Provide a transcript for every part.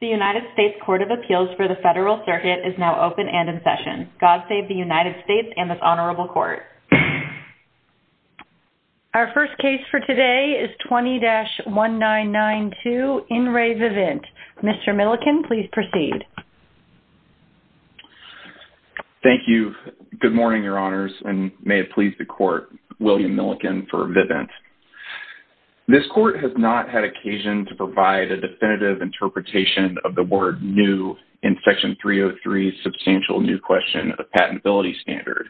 The United States Court of Appeals for the Federal Circuit is now open and in session. God save the United States and this honorable court. Our first case for today is 20-1992, In Re Vivint. Mr. Milliken, please proceed. Thank you. Good morning, your honors, and may it please the court, William Milliken for Vivint. This court has not had occasion to provide a definitive interpretation of the word new in Section 303's substantial new question of patentability standard,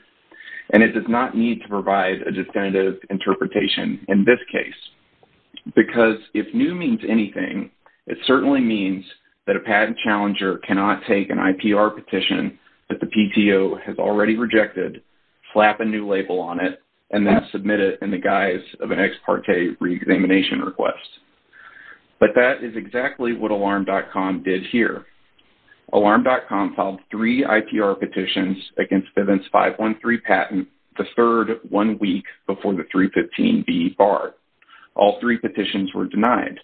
and it does not need to provide a definitive interpretation in this case, because if new means anything, it certainly means that a patent challenger cannot take an IPR petition that the PTO has already rejected, slap a new label on it, and then submit it in the guise of an ex parte reexamination request. But that is exactly what Alarm.com did here. Alarm.com filed three IPR petitions against Vivint's 513 patent, the third one week before the 315B bar. All three petitions were denied,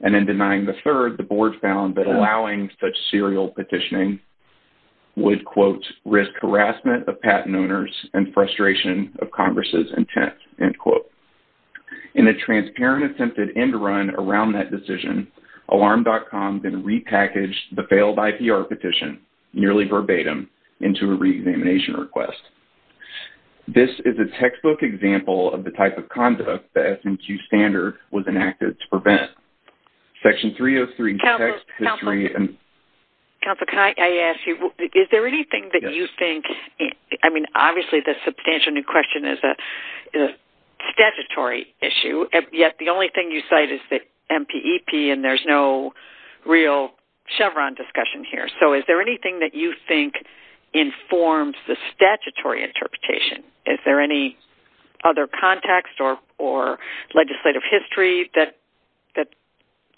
and in denying the third, the board found that allowing such harassment of patent owners and frustration of Congress's intent, end quote. In a transparent attempted end run around that decision, Alarm.com then repackaged the failed IPR petition, nearly verbatim, into a reexamination request. This is a textbook example of the type of conduct the SMQ standard was enacted to prevent. Section 303, text, history, and... Counselor, can I ask you, is there anything that you think, I mean, obviously, the substantial new question is a statutory issue, yet the only thing you cite is the MPEP, and there's no real Chevron discussion here. So is there anything that you think informs the statutory interpretation? Is there any other context or legislative history that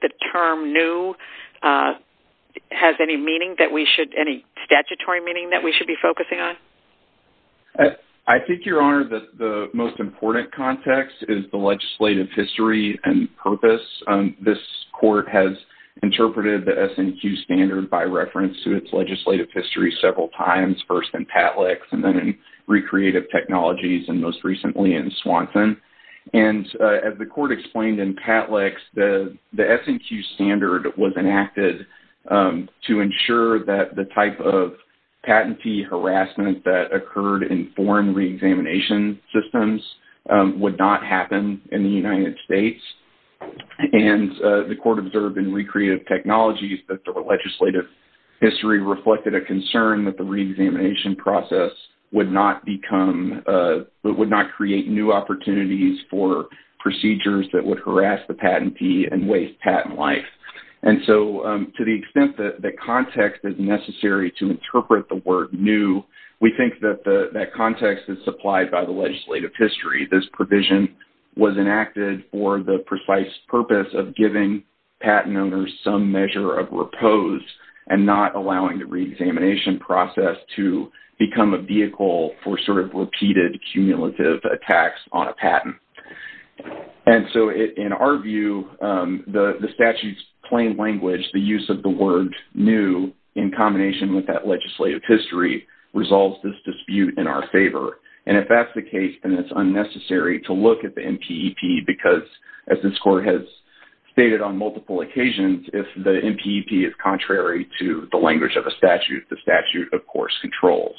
the term new has any meaning that we should, any statutory meaning that we should be focusing on? I think, Your Honor, that the most important context is the legislative history and purpose. This court has interpreted the SMQ standard by reference to its legislative history several times, first in PATLEX, and then in recreative technologies, and most recently in Swanson. And as the court explained in PATLEX, the SMQ standard was enacted to ensure that the type of patentee harassment that occurred in foreign reexamination systems would not happen in the United States. And the court observed in recreative technologies that the legislative history reflected a concern that the reexamination process would not become, would not create new opportunities for procedures that would harass the patentee and waste patent life. And so to the extent that context is necessary to interpret the word new, we think that context is supplied by the legislative history. This provision was enacted for the precise purpose of giving patent owners some measure of repose and not allowing the reexamination process to become a vehicle for sort of repeated cumulative attacks on a patent. And so in our view, the statute's plain language, the use of the word new in combination with that legislative history, resolves this dispute in our favor. And if that's the case, then it's unnecessary to look at the MPEP because, as this court has stated on multiple occasions, if the MPEP is contrary to the language of a statute, the statute, of course, controls.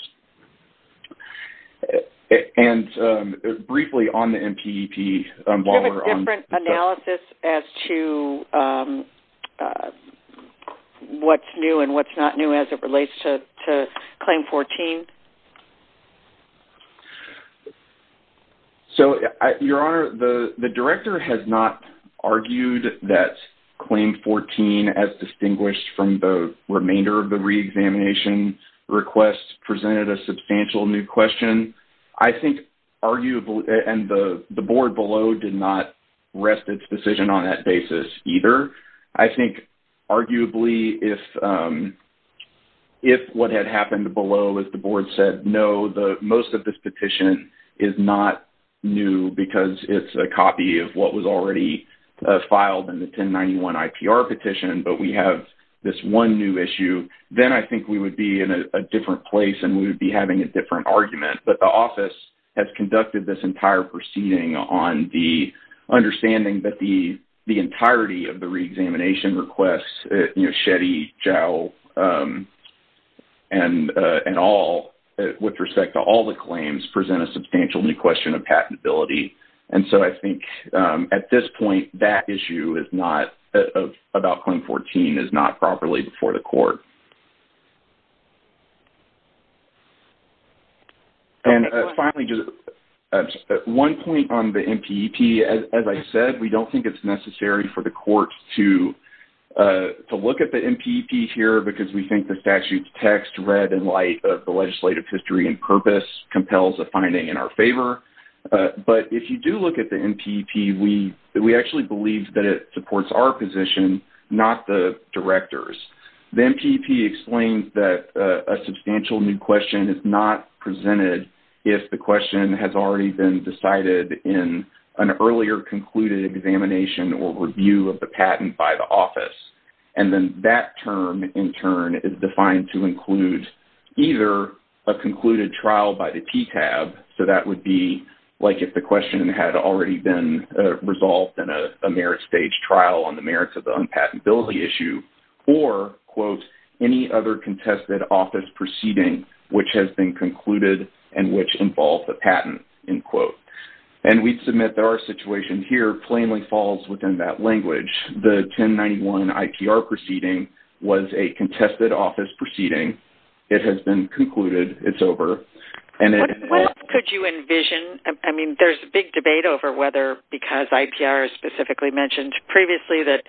And briefly on the MPEP, Walmer, on the... Do you have a different analysis as to what's new and what's not new as it relates to Claim 14? So, Your Honor, the Director has not argued that Claim 14, as distinguished from the remainder of the reexamination request, presented a substantial new question. I think arguably... And the board below did not rest its decision on that basis either. I think arguably, if what had happened below, if the board said, no, most of this petition is not new because it's a copy of what was already filed in the 1091 IPR petition, but we have this one new issue, then I think we would be in a different place and we would be having a different argument. But the office has conducted this entire proceeding on the understanding that the entirety of the reexamination requests, you know, Shetty, Jowell, and all, with respect to all the claims, present a substantial new question of patentability. And so I think at this point, that issue is not... About Claim 14 is not properly before the court. And finally, just one point on the MPEP, as I said, we don't think it's necessary for the court to look at the MPEP here because we think the statute's text, read in light of the legislative history and purpose, compels a finding in our favor. But if you do look at the MPEP, we actually believe that it supports our position, not the director's. The MPEP explains that a substantial new question is not presented if the question has already been decided in an earlier concluded examination or review of the patent by the office. And then that term, in turn, is defined to include either a concluded trial by the TTAB, so that would be like if the question had already been resolved in a merit stage trial on the merits of the unpatentability issue, or, quote, any other contested office proceeding which has been concluded and which involves a patent, end quote. And we submit that our situation here plainly falls within that language. The 1091 IPR proceeding was a contested office proceeding. It has been concluded. It's over. And it... What else could you envision? I mean, there's a big debate over whether because IPR is specifically mentioned previously that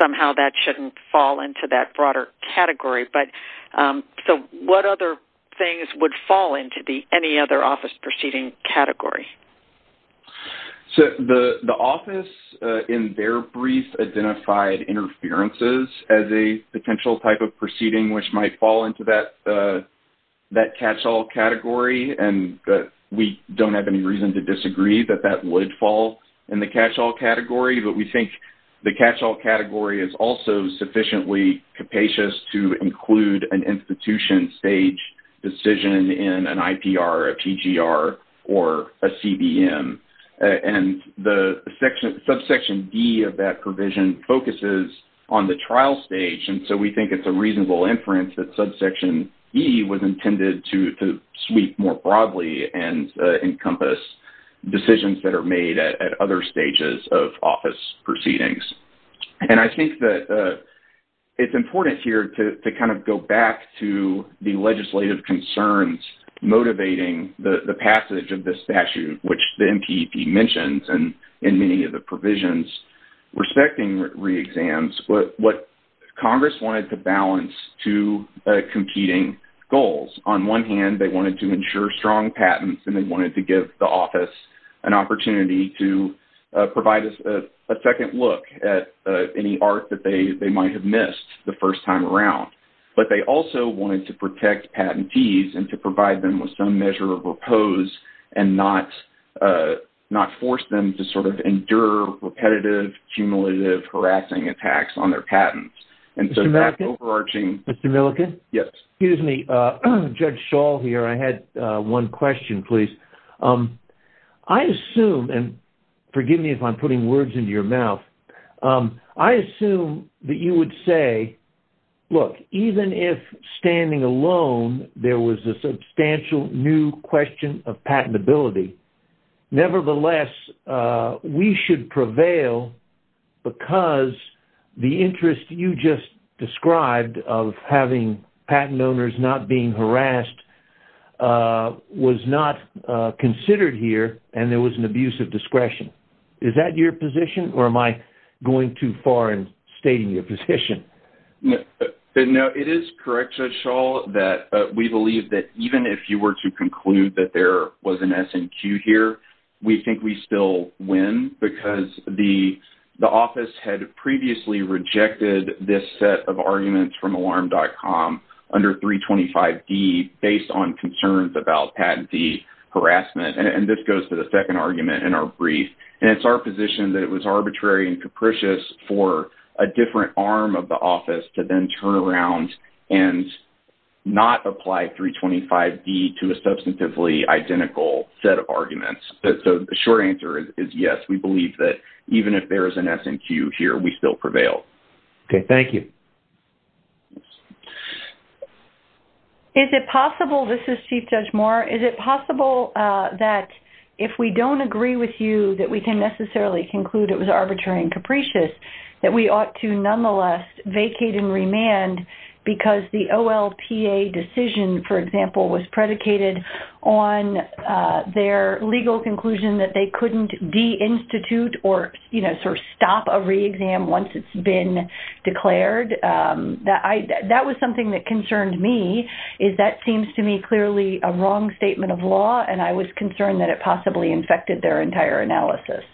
somehow that shouldn't fall into that broader category. But, so, what other things would fall into the any other office proceeding category? So, the office, in their brief, identified interferences as a potential type of proceeding which might fall into that catch-all category, and we don't have any reason to disagree that that would fall in the catch-all category. But we think the catch-all category is also sufficiently capacious to include an institution stage decision in an IPR, a PGR, or a CBM. And the subsection D of that provision focuses on the trial stage, and so we think it's a reasonable inference that subsection E was intended to sweep more broadly and encompass decisions that are made at other stages of office proceedings. And I think that it's important here to kind of go back to the legislative concerns motivating the passage of this statute, which the MPP mentions in many of the provisions, respecting re-exams, but what Congress wanted to balance two competing goals. On one hand, they wanted to ensure strong patents, and they wanted to give the office an opportunity to provide a second look at any art that they might have missed the first time around. But they also wanted to protect patentees and to provide them with some measure of repose and not force them to sort of endure repetitive, cumulative, harassing attacks on their patents. And so that overarching- Mr. Milliken? Yes. Excuse me. Judge Schall here. I had one question, please. I assume, and forgive me if I'm putting words into your mouth, I assume that you would say, look, even if standing alone there was a substantial new question of patentability, nevertheless, we should prevail because the interest you just described of having patent owners not being harassed was not considered here, and there was an abuse of discretion. Is that your position, or am I going too far in stating your position? No, it is correct, Judge Schall, that we believe that even if you were to conclude that there was an abuse of discretion, we think we still win because the office had previously rejected this set of arguments from Alarm.com under 325D based on concerns about patentee harassment. And this goes to the second argument in our brief, and it's our position that it was arbitrary and capricious for a different arm of the office to then turn around and not apply 325D to a substantively identical set of arguments. So the short answer is yes, we believe that even if there is an S&Q here, we still prevail. Okay, thank you. Is it possible, this is Chief Judge Moore, is it possible that if we don't agree with you that we can necessarily conclude it was arbitrary and capricious, that we ought to on their legal conclusion that they couldn't deinstitute or, you know, sort of stop a reexam once it's been declared? That was something that concerned me, is that seems to me clearly a wrong statement of law, and I was concerned that it possibly infected their entire analysis.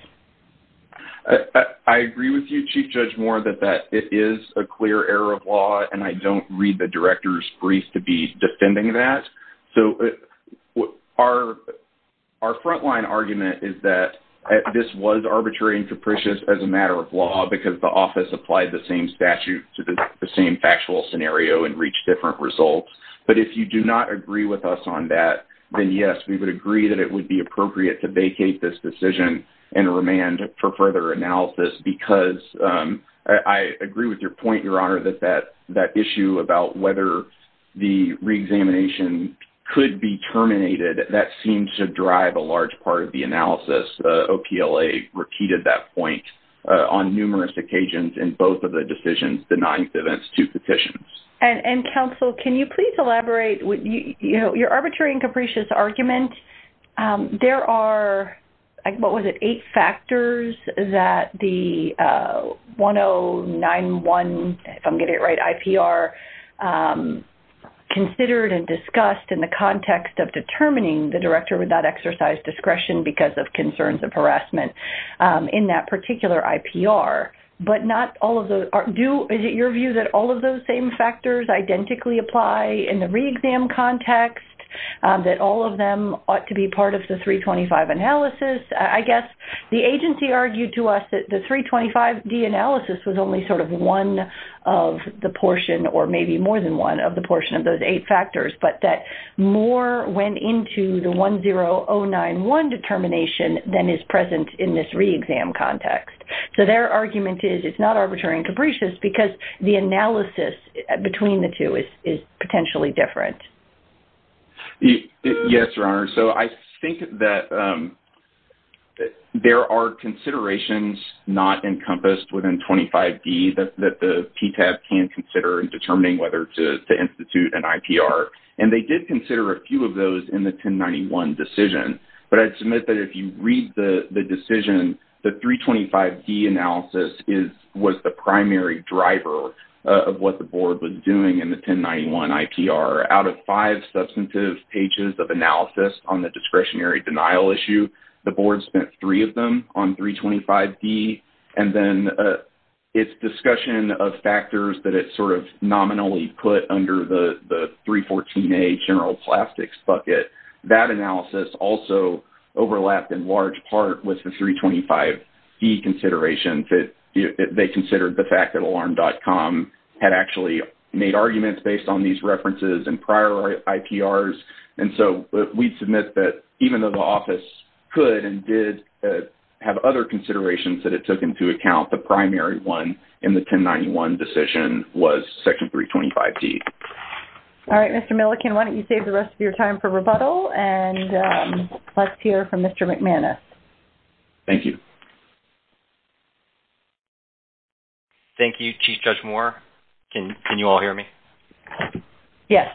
I agree with you, Chief Judge Moore, that that is a clear error of law, and I don't read the director's brief to be defending that. So our front-line argument is that this was arbitrary and capricious as a matter of law because the office applied the same statute to the same factual scenario and reached different results. But if you do not agree with us on that, then yes, we would agree that it would be appropriate to vacate this decision and remand for further analysis because I agree with your point, Your Honor, that that issue about whether the reexamination could be terminated, that seems to drive a large part of the analysis. The OPLA repeated that point on numerous occasions in both of the decisions denying the deinstitute petitions. And, Counsel, can you please elaborate with, you know, your arbitrary and capricious argument? There are, what was it, eight factors that the 1091, if I'm getting it right, IPR, considered and discussed in the context of determining the director would not exercise discretion because of concerns of harassment in that particular IPR. But not all of those are due. Is it your view that all of those same factors identically apply in the reexam context, that all of them ought to be part of the 325 analysis? I guess the agency argued to us that the 325D analysis was only sort of one of the portion or maybe more than one of the portion of those eight factors, but that more went into the 10091 determination than is present in this reexam context. So their argument is it's not arbitrary and capricious because the analysis between the two is potentially different. Yes, Your Honor. So I think that there are considerations not encompassed within 25D that the PTAS can consider in determining whether to institute an IPR. And they did consider a few of those in the 1091 decision. But I'd submit that if you read the decision, the 325D analysis is, was the primary driver of what the board was doing in the 1091 IPR. Out of five substantive pages of analysis on the discretionary denial issue, the board spent three of them on 325D. And then its discussion of factors that it sort of nominally put under the 314A general plastics bucket, that analysis also overlapped in large part with the 325D consideration that they considered the fact that Alarm.com had actually made arguments based on these references and prior IPRs. And so we'd submit that even though the office could and did have other considerations that it took into account, the primary one in the 1091 decision was Section 325D. All right, Mr. Milliken, why don't you save the rest of your time for rebuttal and let's hear from Mr. McManus. Thank you. Thank you, Chief Judge Moore. Can, can you all hear me? Yes.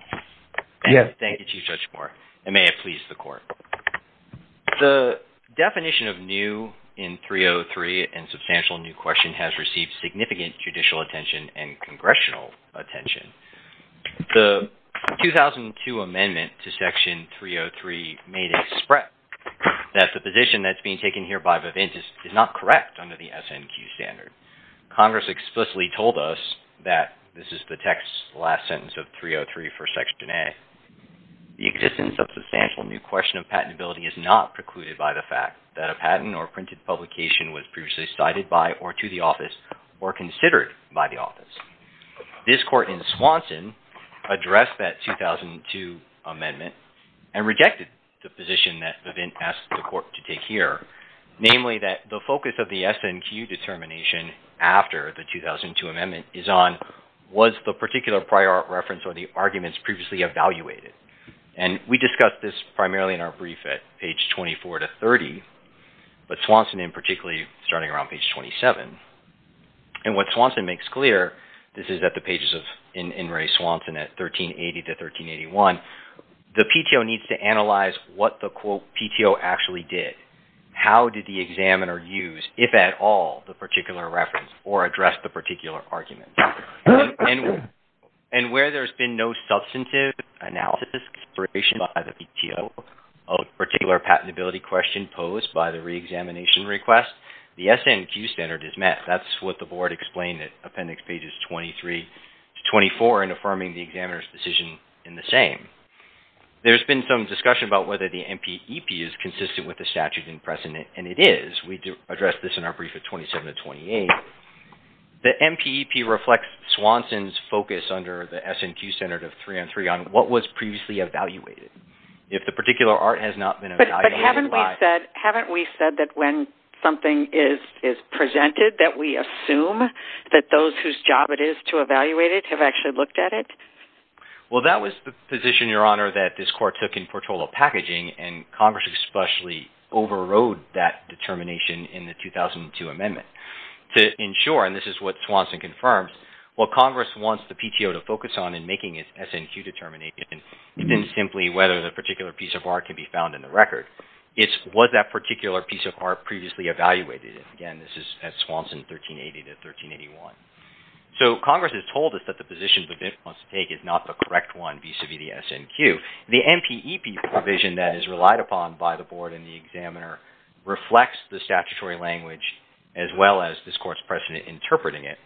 Yes. Thank you, Chief Judge Moore. And may it please the court. The definition of new in 303 and substantial new question has received significant judicial attention and congressional attention. The 2002 amendment to Section 303 made it spread that the position that's being taken here by Vavint is not correct under the SNQ standard. Congress explicitly told us that this is the text last sentence of 303 for Section A. The existence of substantial new question of patentability is not precluded by the fact that a patent or printed publication was previously cited by or to the office or considered by the office. This court in Swanson addressed that 2002 amendment and rejected the position that Vavint asked the court to take here, namely that the focus of the SNQ determination after the 2002 amendment is on was the particular prior reference or the arguments previously evaluated. And we discussed this primarily in our brief at page 24 to 30, but Swanson in particularly starting around page 27. And what Swanson makes clear, this is at the pages of, in Ray Swanson at 1380 to 1381, the PTO needs to analyze what the quote PTO actually did. How did the examiner use, if at all, the particular reference or address the particular argument? And where there's been no substantive analysis by the PTO of a particular patentability question posed by the reexamination request, the SNQ standard is met. That's what the board explained at appendix pages 23 to 24 in affirming the examiner's decision in the same. There's been some discussion about whether the MPEP is consistent with the statute in precedent, and it is. We addressed this in our brief at 27 to 28. The MPEP reflects Swanson's focus under the SNQ standard of three on three on what was previously evaluated. If the particular art has not been evaluated by... But haven't we said that when something is presented that we assume that those whose job it is to evaluate it have actually looked at it? Well, that was the position, Your Honor, that this court took in Portola Packaging, and Congress especially overrode that determination in the 2002 amendment to ensure, and this is what Swanson confirms, while Congress wants the PTO to focus on in making its SNQ determination within simply whether the particular piece of art can be found in the record, it's was that particular piece of art previously evaluated. Again, this is at Swanson, 1380 to 1381. So Congress has told us that the position Vavin wants to take is not the correct one vis-a-vis the SNQ. The MPEP provision that is relied upon by the board and the examiner reflects the statutory language as well as this court's precedent interpreting it.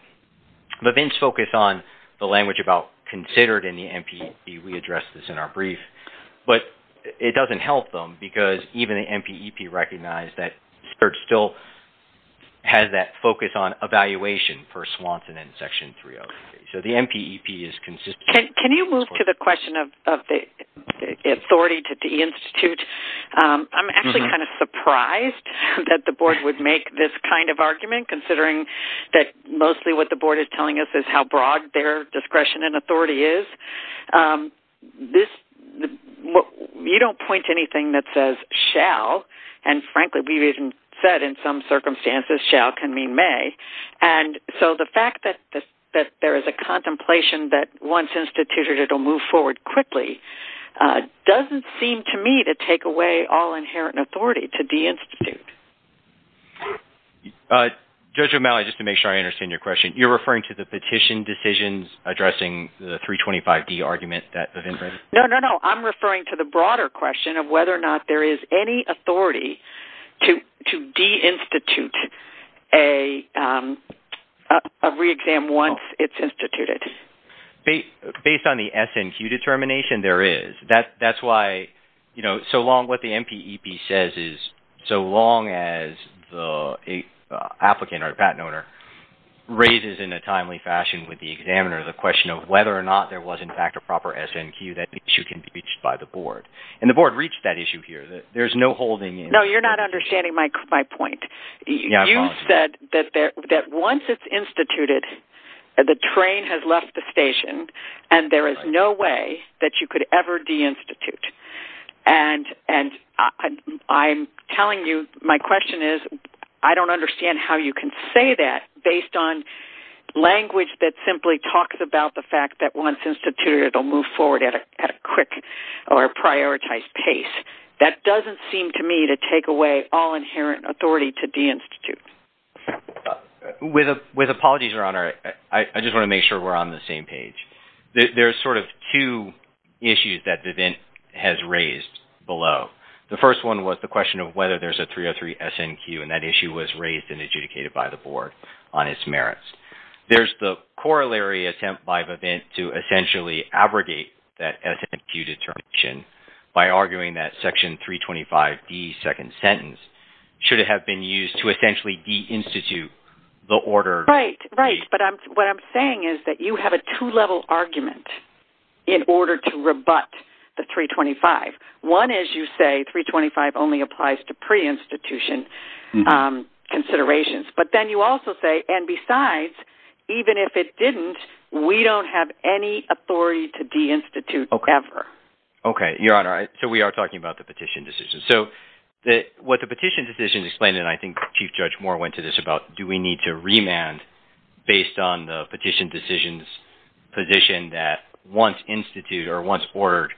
Vavin's focus on the language about considered in the MPEP, we addressed this in our brief, but it doesn't help them because even the MPEP recognized that Spurge still has that focus on evaluation for Swanson and Section 303. So the MPEP is consistent. Can you move to the question of the authority to the institute? I'm actually kind of surprised that the board would make this kind of argument considering that mostly what the board is telling us is how broad their discretion and authority is. This, you don't point to anything that says shall, and frankly we've even said in some circumstances shall can mean may, and so the fact that there is a contemplation that once instituted it will move forward quickly doesn't seem to me to take away all inherent authority to de-institute. Judge O'Malley, just to make sure I understand your question, you're referring to the petition decisions addressing the 325D argument that Vavin raised? No, no, no. I'm referring to the broader question of whether or not there is any authority to de-institute a re-exam once it's instituted. Based on the SNQ determination, there is. That's why, you know, so long what the MPEP says is so long as the applicant or patent owner raises in a timely fashion with the examiner the question of whether or not there was in fact a proper SNQ that issue can be reached by the board. And the board reached that issue here. There's no holding. No, you're not understanding my point. You said that once it's instituted, the train has left the station and there is no way that you could ever de-institute, and I'm telling you my question is I don't understand how you can say that based on language that simply talks about the fact that once instituted it'll move forward at a quick or prioritized pace. That doesn't seem to me to take away all inherent authority to de-institute. With apologies, Your Honor, I just want to make sure we're on the same page. There's sort of two issues that Vavin has raised below. The first one was the question of whether there's a 303 SNQ and that issue was raised and adjudicated by the board on its merits. There's the corollary attempt by Vavin to essentially abrogate that SNQ determination by arguing that section 325D second sentence should have been used to essentially de-institute the order. Right, right, but what I'm saying is that you have a two-level argument in order to rebut the 325. One, as you say, 325 only applies to pre-institution. Considerations, but then you also say, and besides, even if it didn't, we don't have any authority to de-institute ever. Okay, Your Honor, so we are talking about the petition decision. So, what the petition decision explained, and I think Chief Judge Moore went to this about do we need to remand based on the petition decision's position that once instituted or once ordered,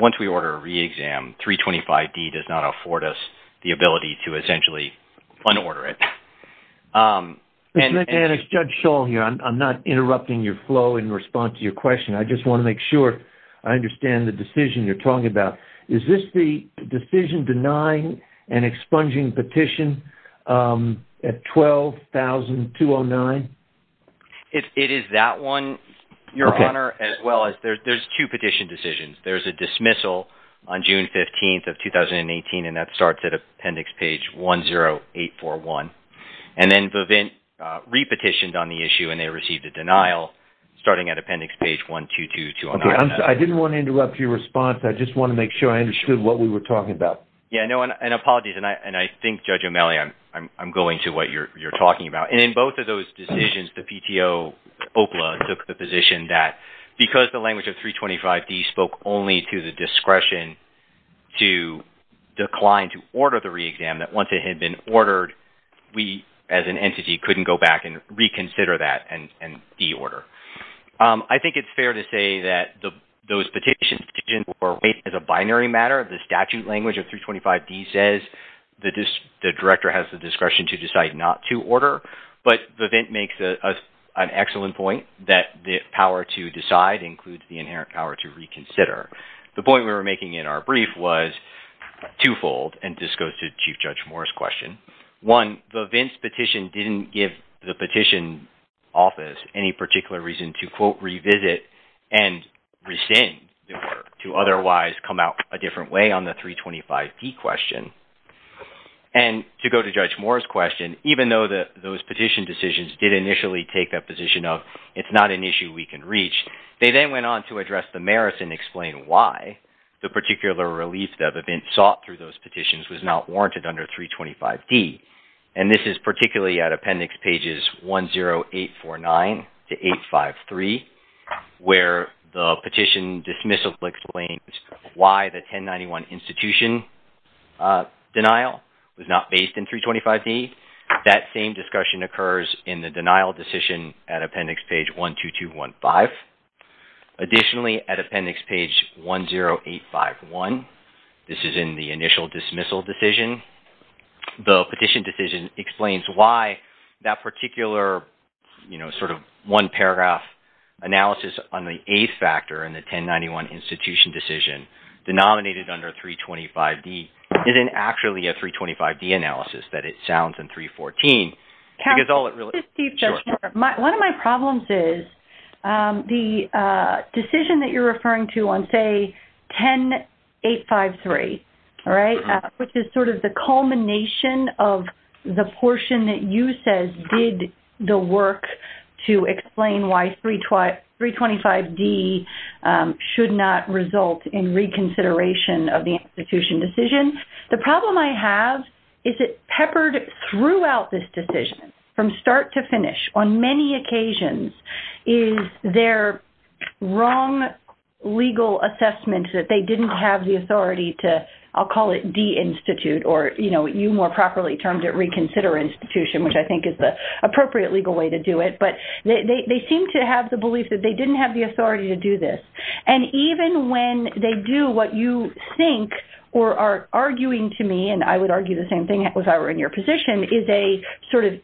once we order a re-exam, 325D does not afford us the ability to essentially un-order it. And it's Judge Shull here. I'm not interrupting your flow in response to your question. I just want to make sure I understand the decision you're talking about. Is this the decision denying an expunging petition at 12,209? It is that one, Your Honor, as well as there's two petition decisions. There's a dismissal on June 15th of 2018, and that starts at appendix page 10841. And then Vavint re-petitioned on the issue, and they received a denial starting at appendix page 12229. Okay, I didn't want to interrupt your response. I just want to make sure I understood what we were talking about. Yeah, no, and apologies, and I think, Judge O'Malley, I'm going to what you're talking about. And in both of those decisions, the PTO, OPLA, took the position that because the language of 325D spoke only to the discretion to decline to order the re-exam, that once it had been ordered, we, as an entity, couldn't go back and reconsider that and de-order. I think it's fair to say that those petitions were raised as a binary matter. The statute language of 325D says the director has the discretion to decide not to order. But Vavint makes an excellent point that the power to decide includes the inherent power to reconsider. The point we were making in our brief was twofold, and this goes to Chief Judge Moore's question. One, Vavint's petition didn't give the petition office any particular reason to, quote, revisit and rescind the order to otherwise come out a different way on the 325D question. And to go to Judge Moore's question, even though those petition decisions did initially take that position of it's not an issue we can reach, they then went on to address the merits and explain why the particular relief that Vavint sought through those petitions was not warranted under 325D. And this is particularly at appendix pages 10849 to 853, where the petition dismissal explains why the 1091 institution, denial was not based in 325D. That same discussion occurs in the denial decision at appendix page 12215. Additionally, at appendix page 10851, this is in the initial dismissal decision, the petition decision explains why that particular, you know, sort of one paragraph analysis on the eighth factor in the 1091 institution decision denominated under 325D isn't actually a 325D analysis that it sounds in 314. Because all it really- Just Chief Judge Moore, one of my problems is the decision that you're referring to on say 10853, all right, which is sort of the culmination of the portion that you said did the work to explain why 325D should not result in reconsideration of the institution decision. The problem I have is it peppered throughout this decision from start to finish on many occasions is their wrong legal assessment that they didn't have the authority to, I'll call it de-institute or, you know, you more properly termed reconsider institution which I think is the appropriate legal way to do it. But they seem to have the belief that they didn't have the authority to do this. And even when they do what you think or are arguing to me, and I would argue the same thing if I were in your position, is a sort of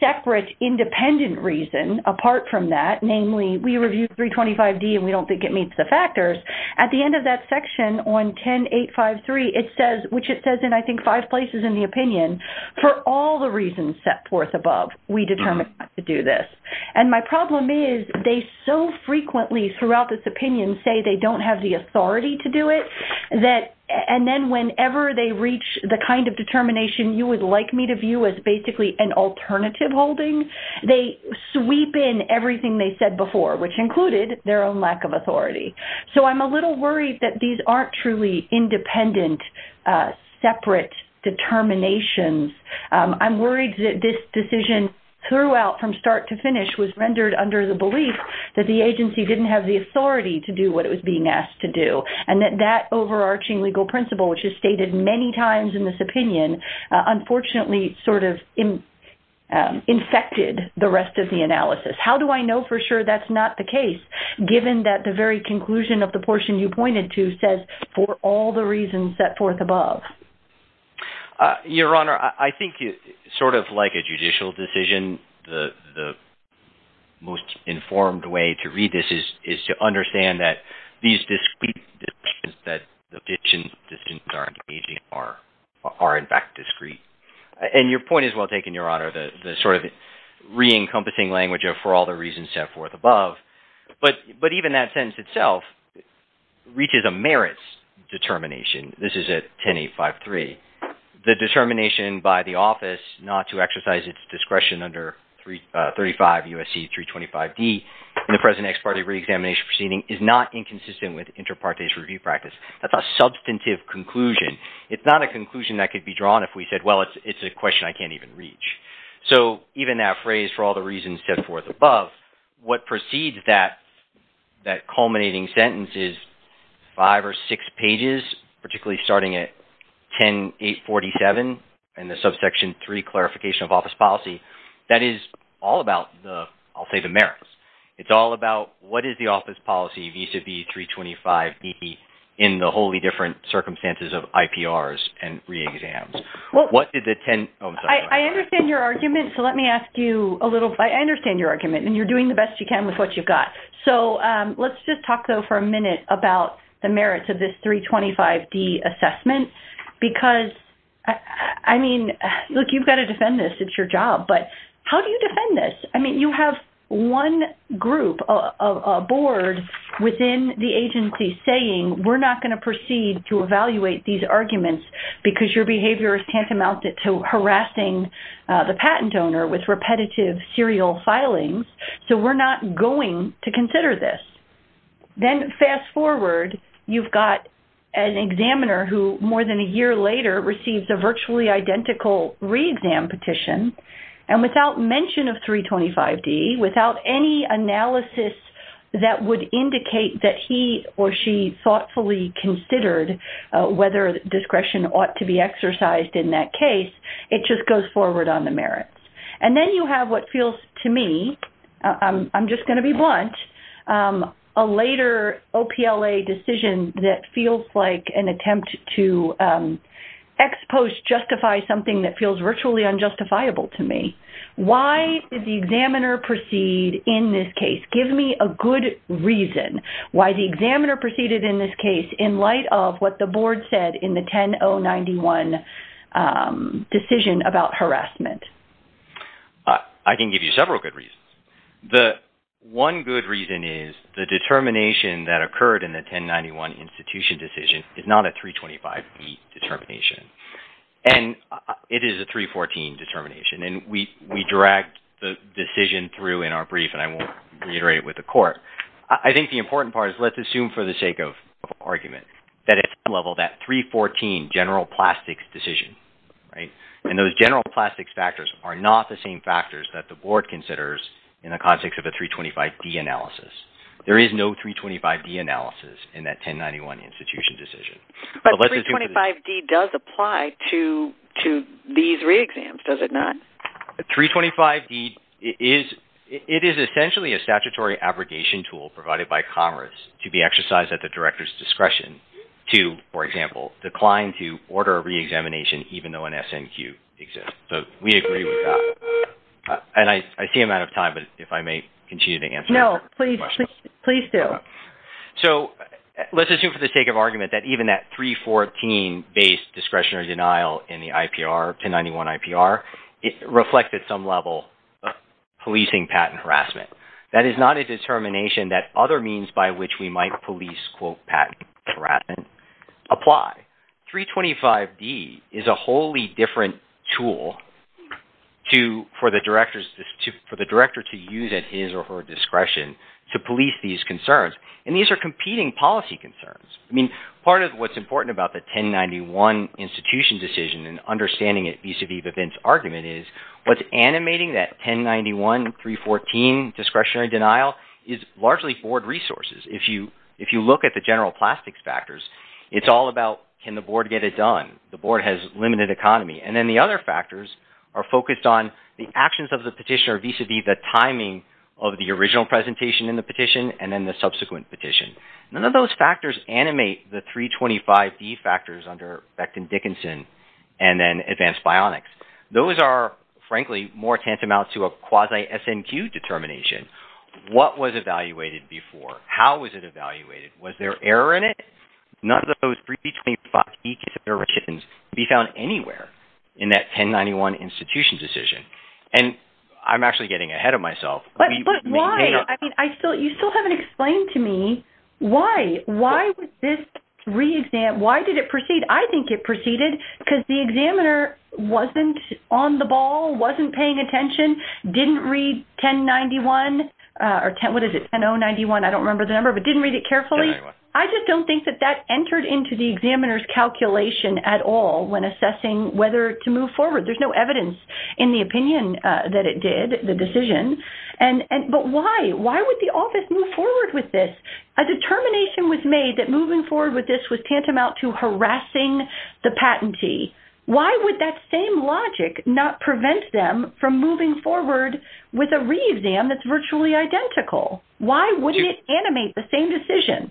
separate independent reason apart from that. Namely, we review 325D and we don't think it meets the factors. At the end of that section on 10853, it says, which it says in I think five places in the opinion, for all the reasons set forth above, we determine not to do this. And my problem is they so frequently throughout this opinion say they don't have the authority to do it that, and then whenever they reach the kind of determination you would like me to view as basically an alternative holding, they sweep in everything they said before which included their own lack of authority. So I'm a little worried that these aren't truly independent separate determinations. I'm worried that this decision throughout from start to finish was rendered under the belief that the agency didn't have the authority to do what it was being asked to do. And that that overarching legal principle which is stated many times in this opinion unfortunately sort of infected the rest of the analysis. How do I know for sure that's not the case given that the very conclusion of the portion you pointed to says for all the reasons set forth above? Your Honor, I think sort of like a judicial decision, the most informed way to read this is to understand that these discrete decisions that the decision are engaging are in fact discrete. The sort of re-encompassing language of for all the reasons set forth above. But even that sentence itself reaches a merits determination. This is at 10853. The determination by the office not to exercise its discretion under 35 U.S.C. 325D in the present ex parte reexamination proceeding is not inconsistent with inter partes review practice. That's a substantive conclusion. It's not a conclusion that could be drawn if we said well it's a question I can't even reach. So even that phrase for all the reasons set forth above, what precedes that culminating sentence is five or six pages particularly starting at 10847 and the subsection three clarification of office policy. That is all about the, I'll say the merits. It's all about what is the office policy vis-a-vis 325D in the wholly different circumstances of IPRs and reexams. What did the 10, oh I'm sorry. I understand your argument so let me ask you a little, I understand your argument and you're doing the best you can with what you've got. So let's just talk though for a minute about the merits of this 325D assessment because I mean, look you've got to defend this, it's your job. But how do you defend this? I mean you have one group, a board within the agency saying we're not going to proceed to evaluate these arguments because your behavior is tantamount to harassing the patent owner with repetitive serial filings. So we're not going to consider this. Then fast forward, you've got an examiner who more than a year later receives a virtually identical reexam petition. And without mention of 325D, without any analysis that would indicate that he or she thoughtfully considered whether discretion ought to be exercised in that case, it just goes forward on the merits. And then you have what feels to me, I'm just going to be blunt, a later OPLA decision that feels like an attempt to ex post justify something that feels virtually unjustifiable to me. Why did the examiner proceed in this case? Give me a good reason. Why the examiner proceeded in this case in light of what the board said in the 10-091 decision about harassment? I can give you several good reasons. The one good reason is the determination that occurred in the 10-091 institution decision is not a 325D determination. And it is a 314 determination. And we dragged the decision through in our brief and I won't reiterate it with the court. I think the important part is let's assume for the sake of argument that it's a level that 314 general plastics decision, right? And those general plastics factors are not the same factors that the board considers in the context of a 325D analysis. There is no 325D analysis in that 10-091 institution decision. But 325D does apply to these reexams, does it not? 325D is-it is essentially a statutory abrogation tool provided by Congress to be exercised at the director's discretion to, for example, decline to order a reexamination even though an SNQ exists. So we agree with that. And I see I'm out of time, but if I may continue to answer- No, please do. So let's assume for the sake of argument that even that 314-based discretionary denial in the IPR, 10-091 IPR, it reflected some level of policing patent harassment. That is not a determination that other means by which we might police quote patent harassment apply. 325D is a wholly different tool to-for the director's-for the director to use at his or her discretion to police these concerns. And these are competing policy concerns. I mean, part of what's important about the 10-091 institution decision and understanding it vis-a-vis the Vint's argument is what's animating that 10-091 314 discretionary denial is largely board resources. If you look at the general plastics factors, it's all about can the board get it done. The board has limited economy. And then the other factors are focused on the actions of the petitioner vis-a-vis the timing of the original presentation in the petition and then the subsequent petition. None of those factors animate the 325D factors under Beckton-Dickinson and then advanced bionics. Those are frankly more tantamount to a quasi-SNQ determination. What was evaluated before? How was it evaluated? Was there error in it? None of those 325D considerations can be found anywhere in that 10-091 institution decision. And I'm actually getting ahead of myself. We maintain- I mean, I still-you still haven't explained to me why. Why was this re-exam-why did it proceed? I think it proceeded because the examiner wasn't on the ball, wasn't paying attention, didn't read 10-91 or 10- what is it? 10-091. I don't remember the number, but didn't read it carefully. I just don't think that that entered into the examiner's calculation at all when assessing whether to move forward. There's no evidence in the opinion that it did, the decision. And-but why? Why would the office move forward with this? A determination was made that moving forward with this was tantamount to harassing the patentee. Why would that same logic not prevent them from moving forward with a re-exam that's virtually identical? Why wouldn't it animate the same decision?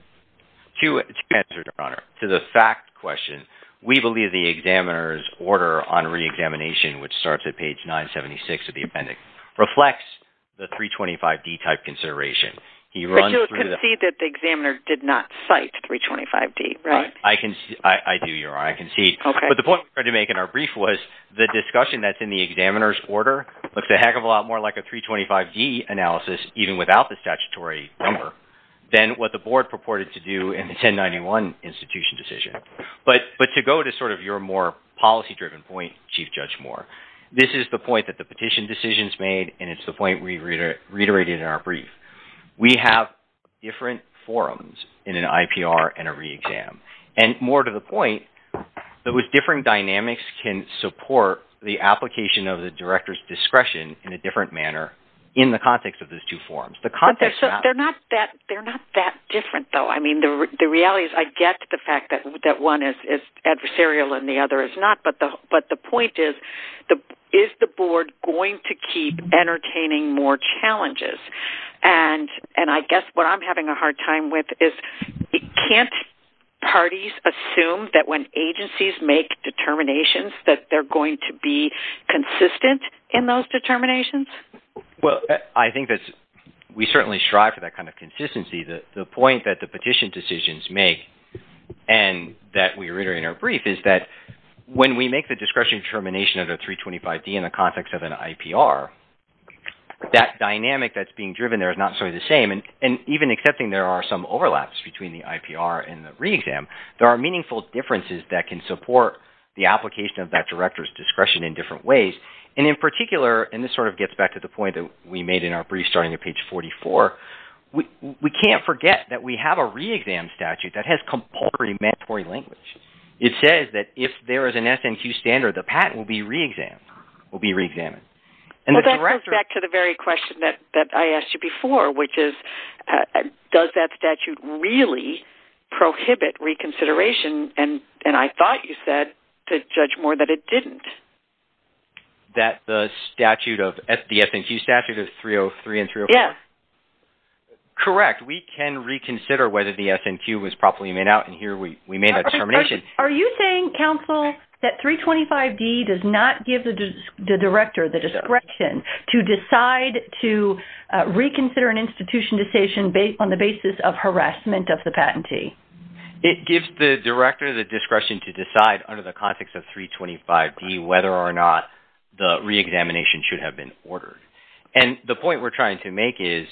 To answer, Your Honor, to the fact question, we believe the examiner's order on re-examination, which starts at page 976 of the appendix, reflects the 325-D type consideration. He runs through the- But you concede that the examiner did not cite 325-D, right? I concede-I do, Your Honor. I concede. Okay. But the point we're trying to make in our brief was the discussion that's in the examiner's order looks a heck of a lot more like a 325-D analysis even without the statutory number than what the board purported to do in the 10-91 institution decision. But to go to sort of your more policy-driven point, Chief Judge Moore, this is the point that the petition decisions made, and it's the point we reiterated in our brief. We have different forums in an IPR and a re-exam. And more to the point, those different dynamics can support the application of the director's discretion in a different manner in the context of those two forums. The context- They're not that different, though. I mean, the reality is I get the fact that one is adversarial and the other is not, but the point is, is the board going to keep entertaining more challenges? And I guess what I'm having a hard time with is can't parties assume that when agencies make determinations that they're going to be consistent in those determinations? Well, I think that we certainly strive for that kind of consistency. The point that the petition decisions make and that we reiterate in our brief is that when we make the discretionary determination of the 325D in the context of an IPR, that dynamic that's being driven there is not sort of the same. And even accepting there are some overlaps between the IPR and the re-exam, there are meaningful differences that can support the application of that director's discretion in different ways. And in particular, and this sort of gets back to the point that we made in our brief starting at page 44, we can't forget that we have a re-exam statute that has compulsory mandatory language. It says that if there is an SNQ standard, the patent will be re-examined, will be re-examined. And the director... Well, that goes back to the very question that I asked you before, which is does that statute really prohibit reconsideration? And I thought you said to judge more that it didn't. That the statute of, the SNQ statute of 303 and 304? Yes. Correct. We can reconsider whether the SNQ was properly made out. And here we made that determination. Are you saying, counsel, that 325D does not give the director the discretion to decide to reconsider an institution decision on the basis of harassment of the patentee? It gives the director the discretion to decide under the context of 325D whether or not the re-examination should have been ordered. And the point we're trying to make is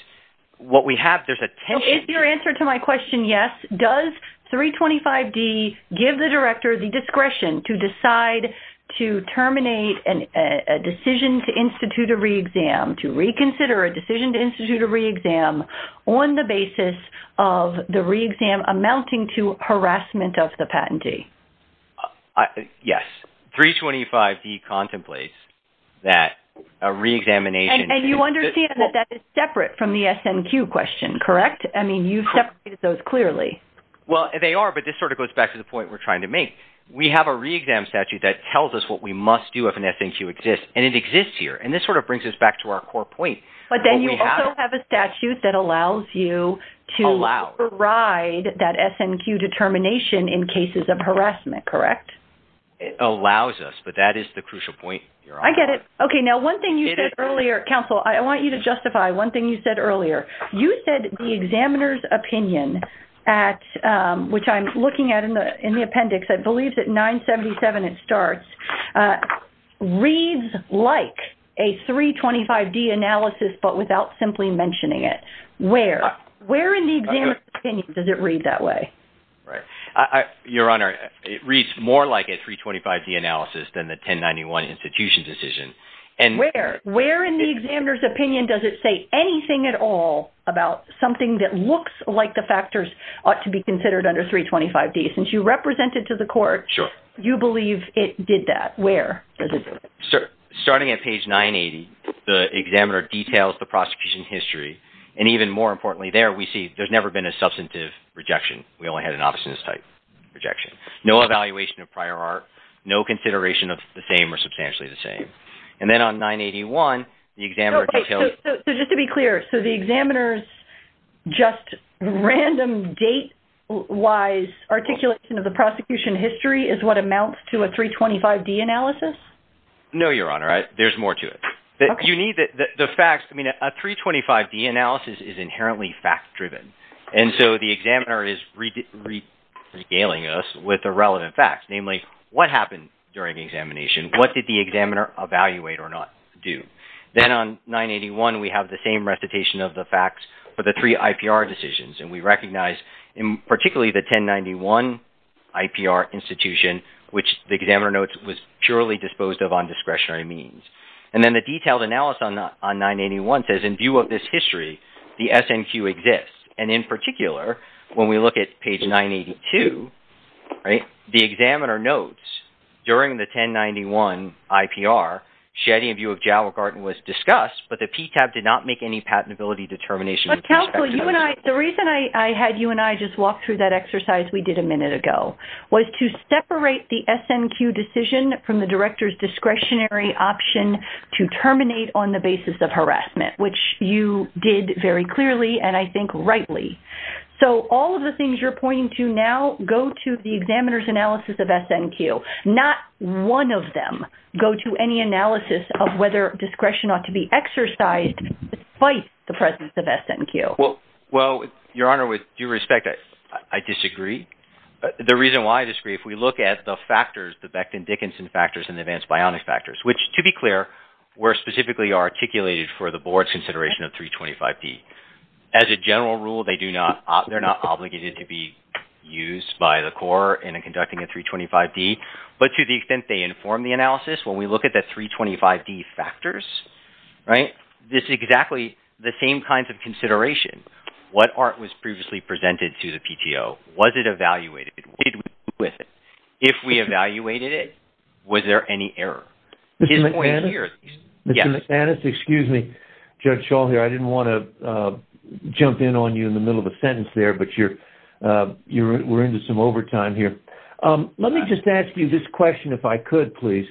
what we have, there's a tension... Is your answer to my question yes? Does 325D give the director the discretion to decide to terminate a decision to institute a re-exam, to reconsider a decision to institute a re-exam on the basis of the re-exam amounting to harassment of the patentee? Yes. 325D contemplates that a re-examination... And you understand that that is separate from the SNQ question, correct? I mean, you've separated those clearly. Well, they are, but this sort of goes back to the point we're trying to make. We have a re-exam statute that tells us what we must do if an SNQ exists, and it exists here. And this sort of brings us back to our core point. But then you also have a statute that allows you to override that SNQ determination in cases of harassment, correct? It allows us, but that is the crucial point. I get it. Okay, now one thing you said earlier, counsel, I want you to justify one thing you said earlier. You said the examiner's opinion at, which I'm looking at in the appendix, I believe it's at 977, it starts, reads like a 325D analysis, but without simply mentioning it. Where? Where in the examiner's opinion does it read that way? Right. Your Honor, it reads more like a 325D analysis than the 1091 institution decision. Where? Where in the examiner's opinion does it say anything at all about something that looks like the factors ought to be considered under 325D? Since you represent it to the court, you believe it did that. Where does it do it? Starting at page 980, the examiner details the prosecution history. And even more importantly there, we see there's never been a substantive rejection. We only had an obstinance type rejection. No evaluation of prior art, no consideration of the same or substantially the same. And then on 981, the examiner details. So just to be clear, so the examiner's just random date-wise articulation of the prosecution history is what amounts to a 325D analysis? No, Your Honor, there's more to it. You need the facts, I mean, a 325D analysis is inherently fact-driven. And so the examiner is regaling us with the relevant facts, namely what happened during the examination? What did the examiner evaluate or not do? Then on 981, we have the same recitation of the facts for the three IPR decisions. And we recognize in particularly the 1091 IPR institution, which the examiner notes was purely disposed of on discretionary means. And then the detailed analysis on 981 says in view of this history, the SNQ exists. And in particular, when we look at page 982, right, the examiner notes during the 1091 IPR, shedding of view of Jalop Garten was discussed, but the PTAB did not make any patentability determination. But counsel, the reason I had you and I just walk through that exercise we did a minute ago was to separate the SNQ decision from the director's discretionary option to terminate on the basis of harassment, which you did very clearly and I think rightly. So all of the things you're pointing to now go to the examiner's analysis of SNQ. Not one of them go to any analysis of whether discretion ought to be exercised despite the presence of SNQ. Well, Your Honor, with due respect, I disagree. The reason why I disagree, if we look at the factors, the Becton-Dickinson factors and the advanced bionic factors, which to be clear, were specifically articulated for the board's consideration of 325D. As a general rule, they're not obligated to be used by the court in conducting a 325D, but to the extent they inform the analysis, when we look at the 325D factors, right, this is exactly the same kinds of consideration. What art was previously presented to the PTO? Was it evaluated? What did we do with it? If we evaluated it, was there any error? His point here is yes. Mr. McManus, excuse me. Judge Schall here. I didn't want to jump in on you in the middle of a sentence there, but we're into some overtime here. Let me just ask you this question, if I could, please.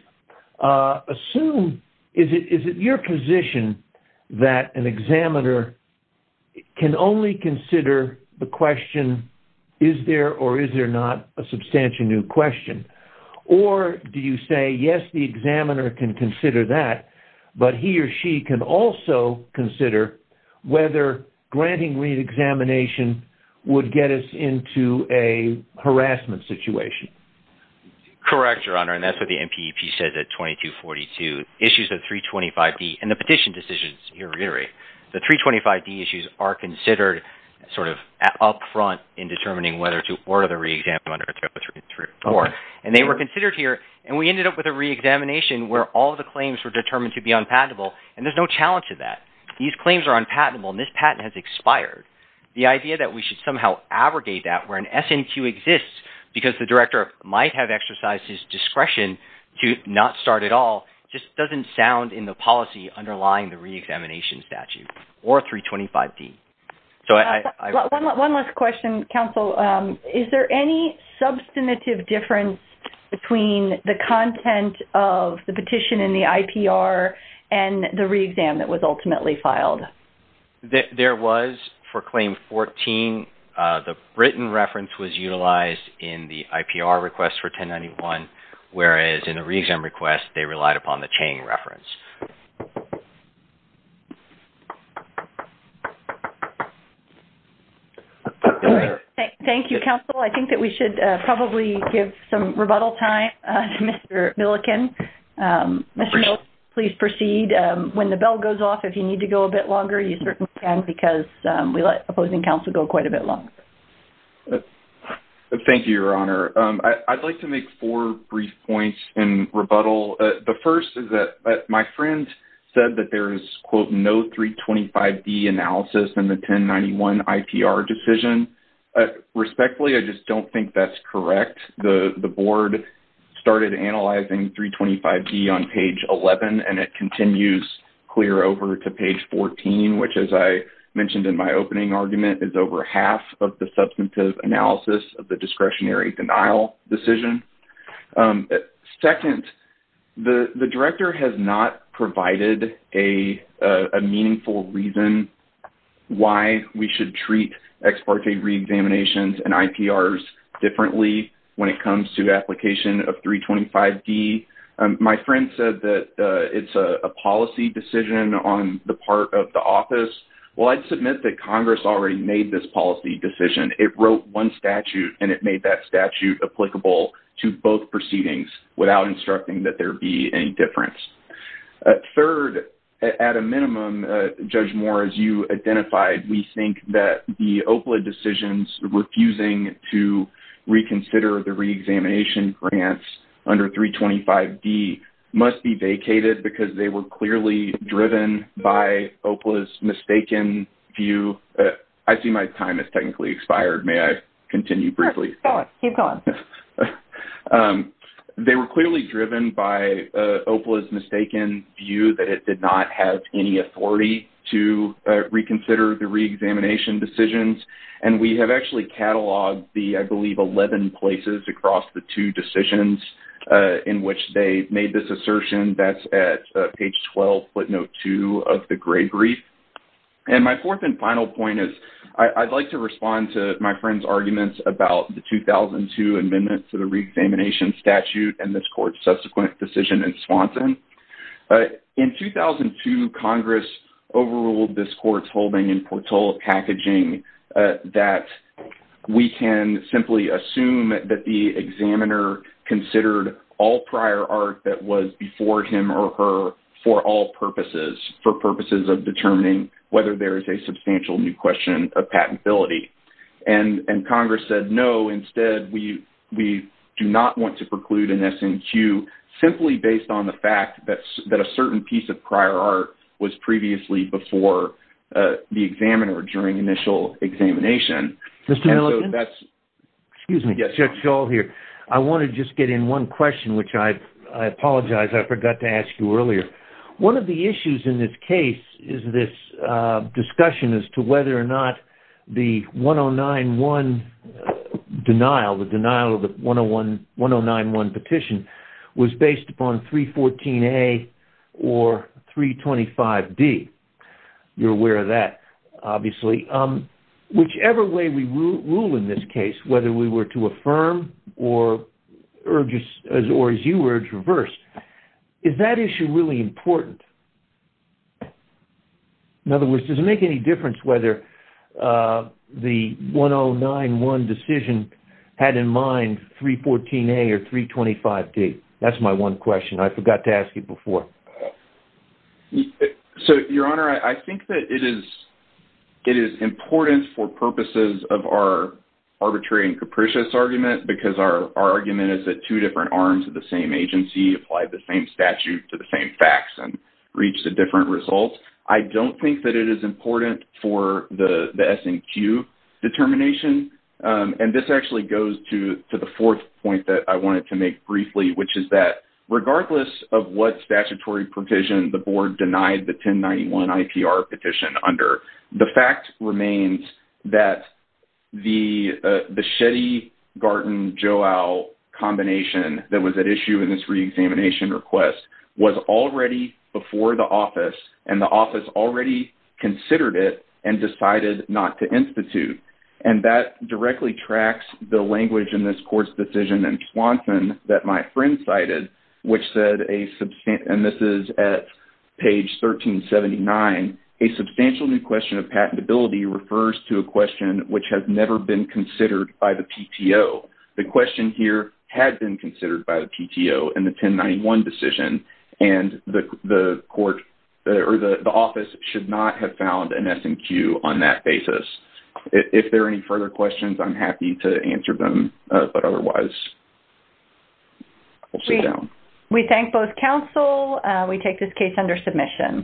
Assume, is it your position that an examiner can only consider the question, is there or is there not a substantially new question? Or do you say, yes, the examiner can consider that, but he or she can also consider whether granting reexamination would get us into a harassment situation? Correct, Your Honor, and that's what the NPEP says at 2242. Issues of 325D, and the petition decisions, you're right, the 325D issues are considered sort of up front in determining whether to order the reexamination under 3034. And they were considered here, and we ended up with a reexamination where all of the claims were determined to be unpatentable, and there's no challenge to that. These claims are unpatentable, and this patent has expired. The idea that we should somehow abrogate that where an SNQ exists because the director might have exercised his discretion to not start at all just doesn't sound in the policy underlying the reexamination statute or 325D. One last question, counsel. Is there any substantive difference between the content of the petition in the IPR and the reexam that was ultimately filed? There was for Claim 14. The written reference was utilized in the IPR request for 1091, whereas in the reexam request, they relied upon the Chang reference. Thank you very much. Thank you, counsel. I think that we should probably give some rebuttal time to Mr. Millikin. Mr. Millikin, please proceed. When the bell goes off, if you need to go a bit longer, you certainly can because we let opposing counsel go quite a bit longer. Thank you, Your Honor. I'd like to make four brief points in rebuttal. The first is that my friend said that there is, quote, no 325D analysis in the 1091 IPR decision. Respectfully, I just don't think that's correct. The board started analyzing 325D on page 11, and it continues clear over to page 14, which as I mentioned in my opening argument, is over half of the substantive analysis of the discretionary denial decision. Second, the director has not provided a meaningful reason why we should treat ex parte reexaminations and IPRs differently when it comes to application of 325D. My friend said that it's a policy decision on the part of the office. Well, I'd submit that Congress already made this policy decision. It wrote one statute, and it made that statute applicable to both proceedings without instructing that there be any difference. Third, at a minimum, Judge Moore, as you identified, we think that the OPLA decisions refusing to reconsider the reexamination grants under 325D must be vacated because they were clearly driven by OPLA's mistaken view. I see my time has technically expired. May I continue briefly? Sure. Go on. Keep going. They were clearly driven by OPLA's mistaken view that it did not have any authority to reconsider the reexamination decisions, and we have actually cataloged the, I believe, 11 places across the two decisions in which they made this assertion. That's at page 12, footnote 2 of the grade brief. And my fourth and final point is I'd like to respond to my friend's arguments about the 2002 amendment to the reexamination statute and this court's subsequent decision in Swanson. In 2002, Congress overruled this court's holding in Portola packaging that we can simply assume that the examiner considered all prior art that was before him or her for all purposes, for purposes of determining whether there is a substantial new question of patentability. And Congress said, no, instead, we do not want to preclude an SNQ simply based on the fact that a certain piece of prior art was previously before the examiner during initial examination. And so that's... Excuse me. Yes. Chuck Scholl here. I want to just get in one question, which I apologize. I forgot to ask you earlier. One of the issues in this case is this discussion as to whether or not the 1091 denial, the denial of the 1091 petition was based upon 314A or 325D. You're aware of that, obviously. Whichever way we rule in this case, whether we were to affirm or urge, or as you urge, reverse, is that issue really important? In other words, does it make any difference whether the 1091 decision had in mind 314A or 325D? That's my one question. I forgot to ask you before. So, Your Honor, I think that it is important for purposes of our arbitrary and capricious argument, because our argument is that two different arms of the same agency applied the same statute to the same facts and reached a different result. I don't think that it is important for the S&Q determination. And this actually goes to the fourth point that I wanted to make briefly, which is that regardless of what statutory provision the board denied the 1091 IPR petition under, the fact remains that the Shetty-Garten-Joao combination that was at issue in this reexamination request was already before the office, and the office already considered it and decided not to institute. And that directly tracks the language in this court's decision in Swanson that my friend cited, which said a substantive, and this is at page 1379, a substantial new question of patentability refers to a question which has never been considered by the PTO. The question here had been considered by the PTO in the 1091 decision, and the court, or the office should not have found an S&Q on that basis. If there are any further questions, I'm happy to answer them, but otherwise, we'll sit down. We thank both counsel. We take this case under submission.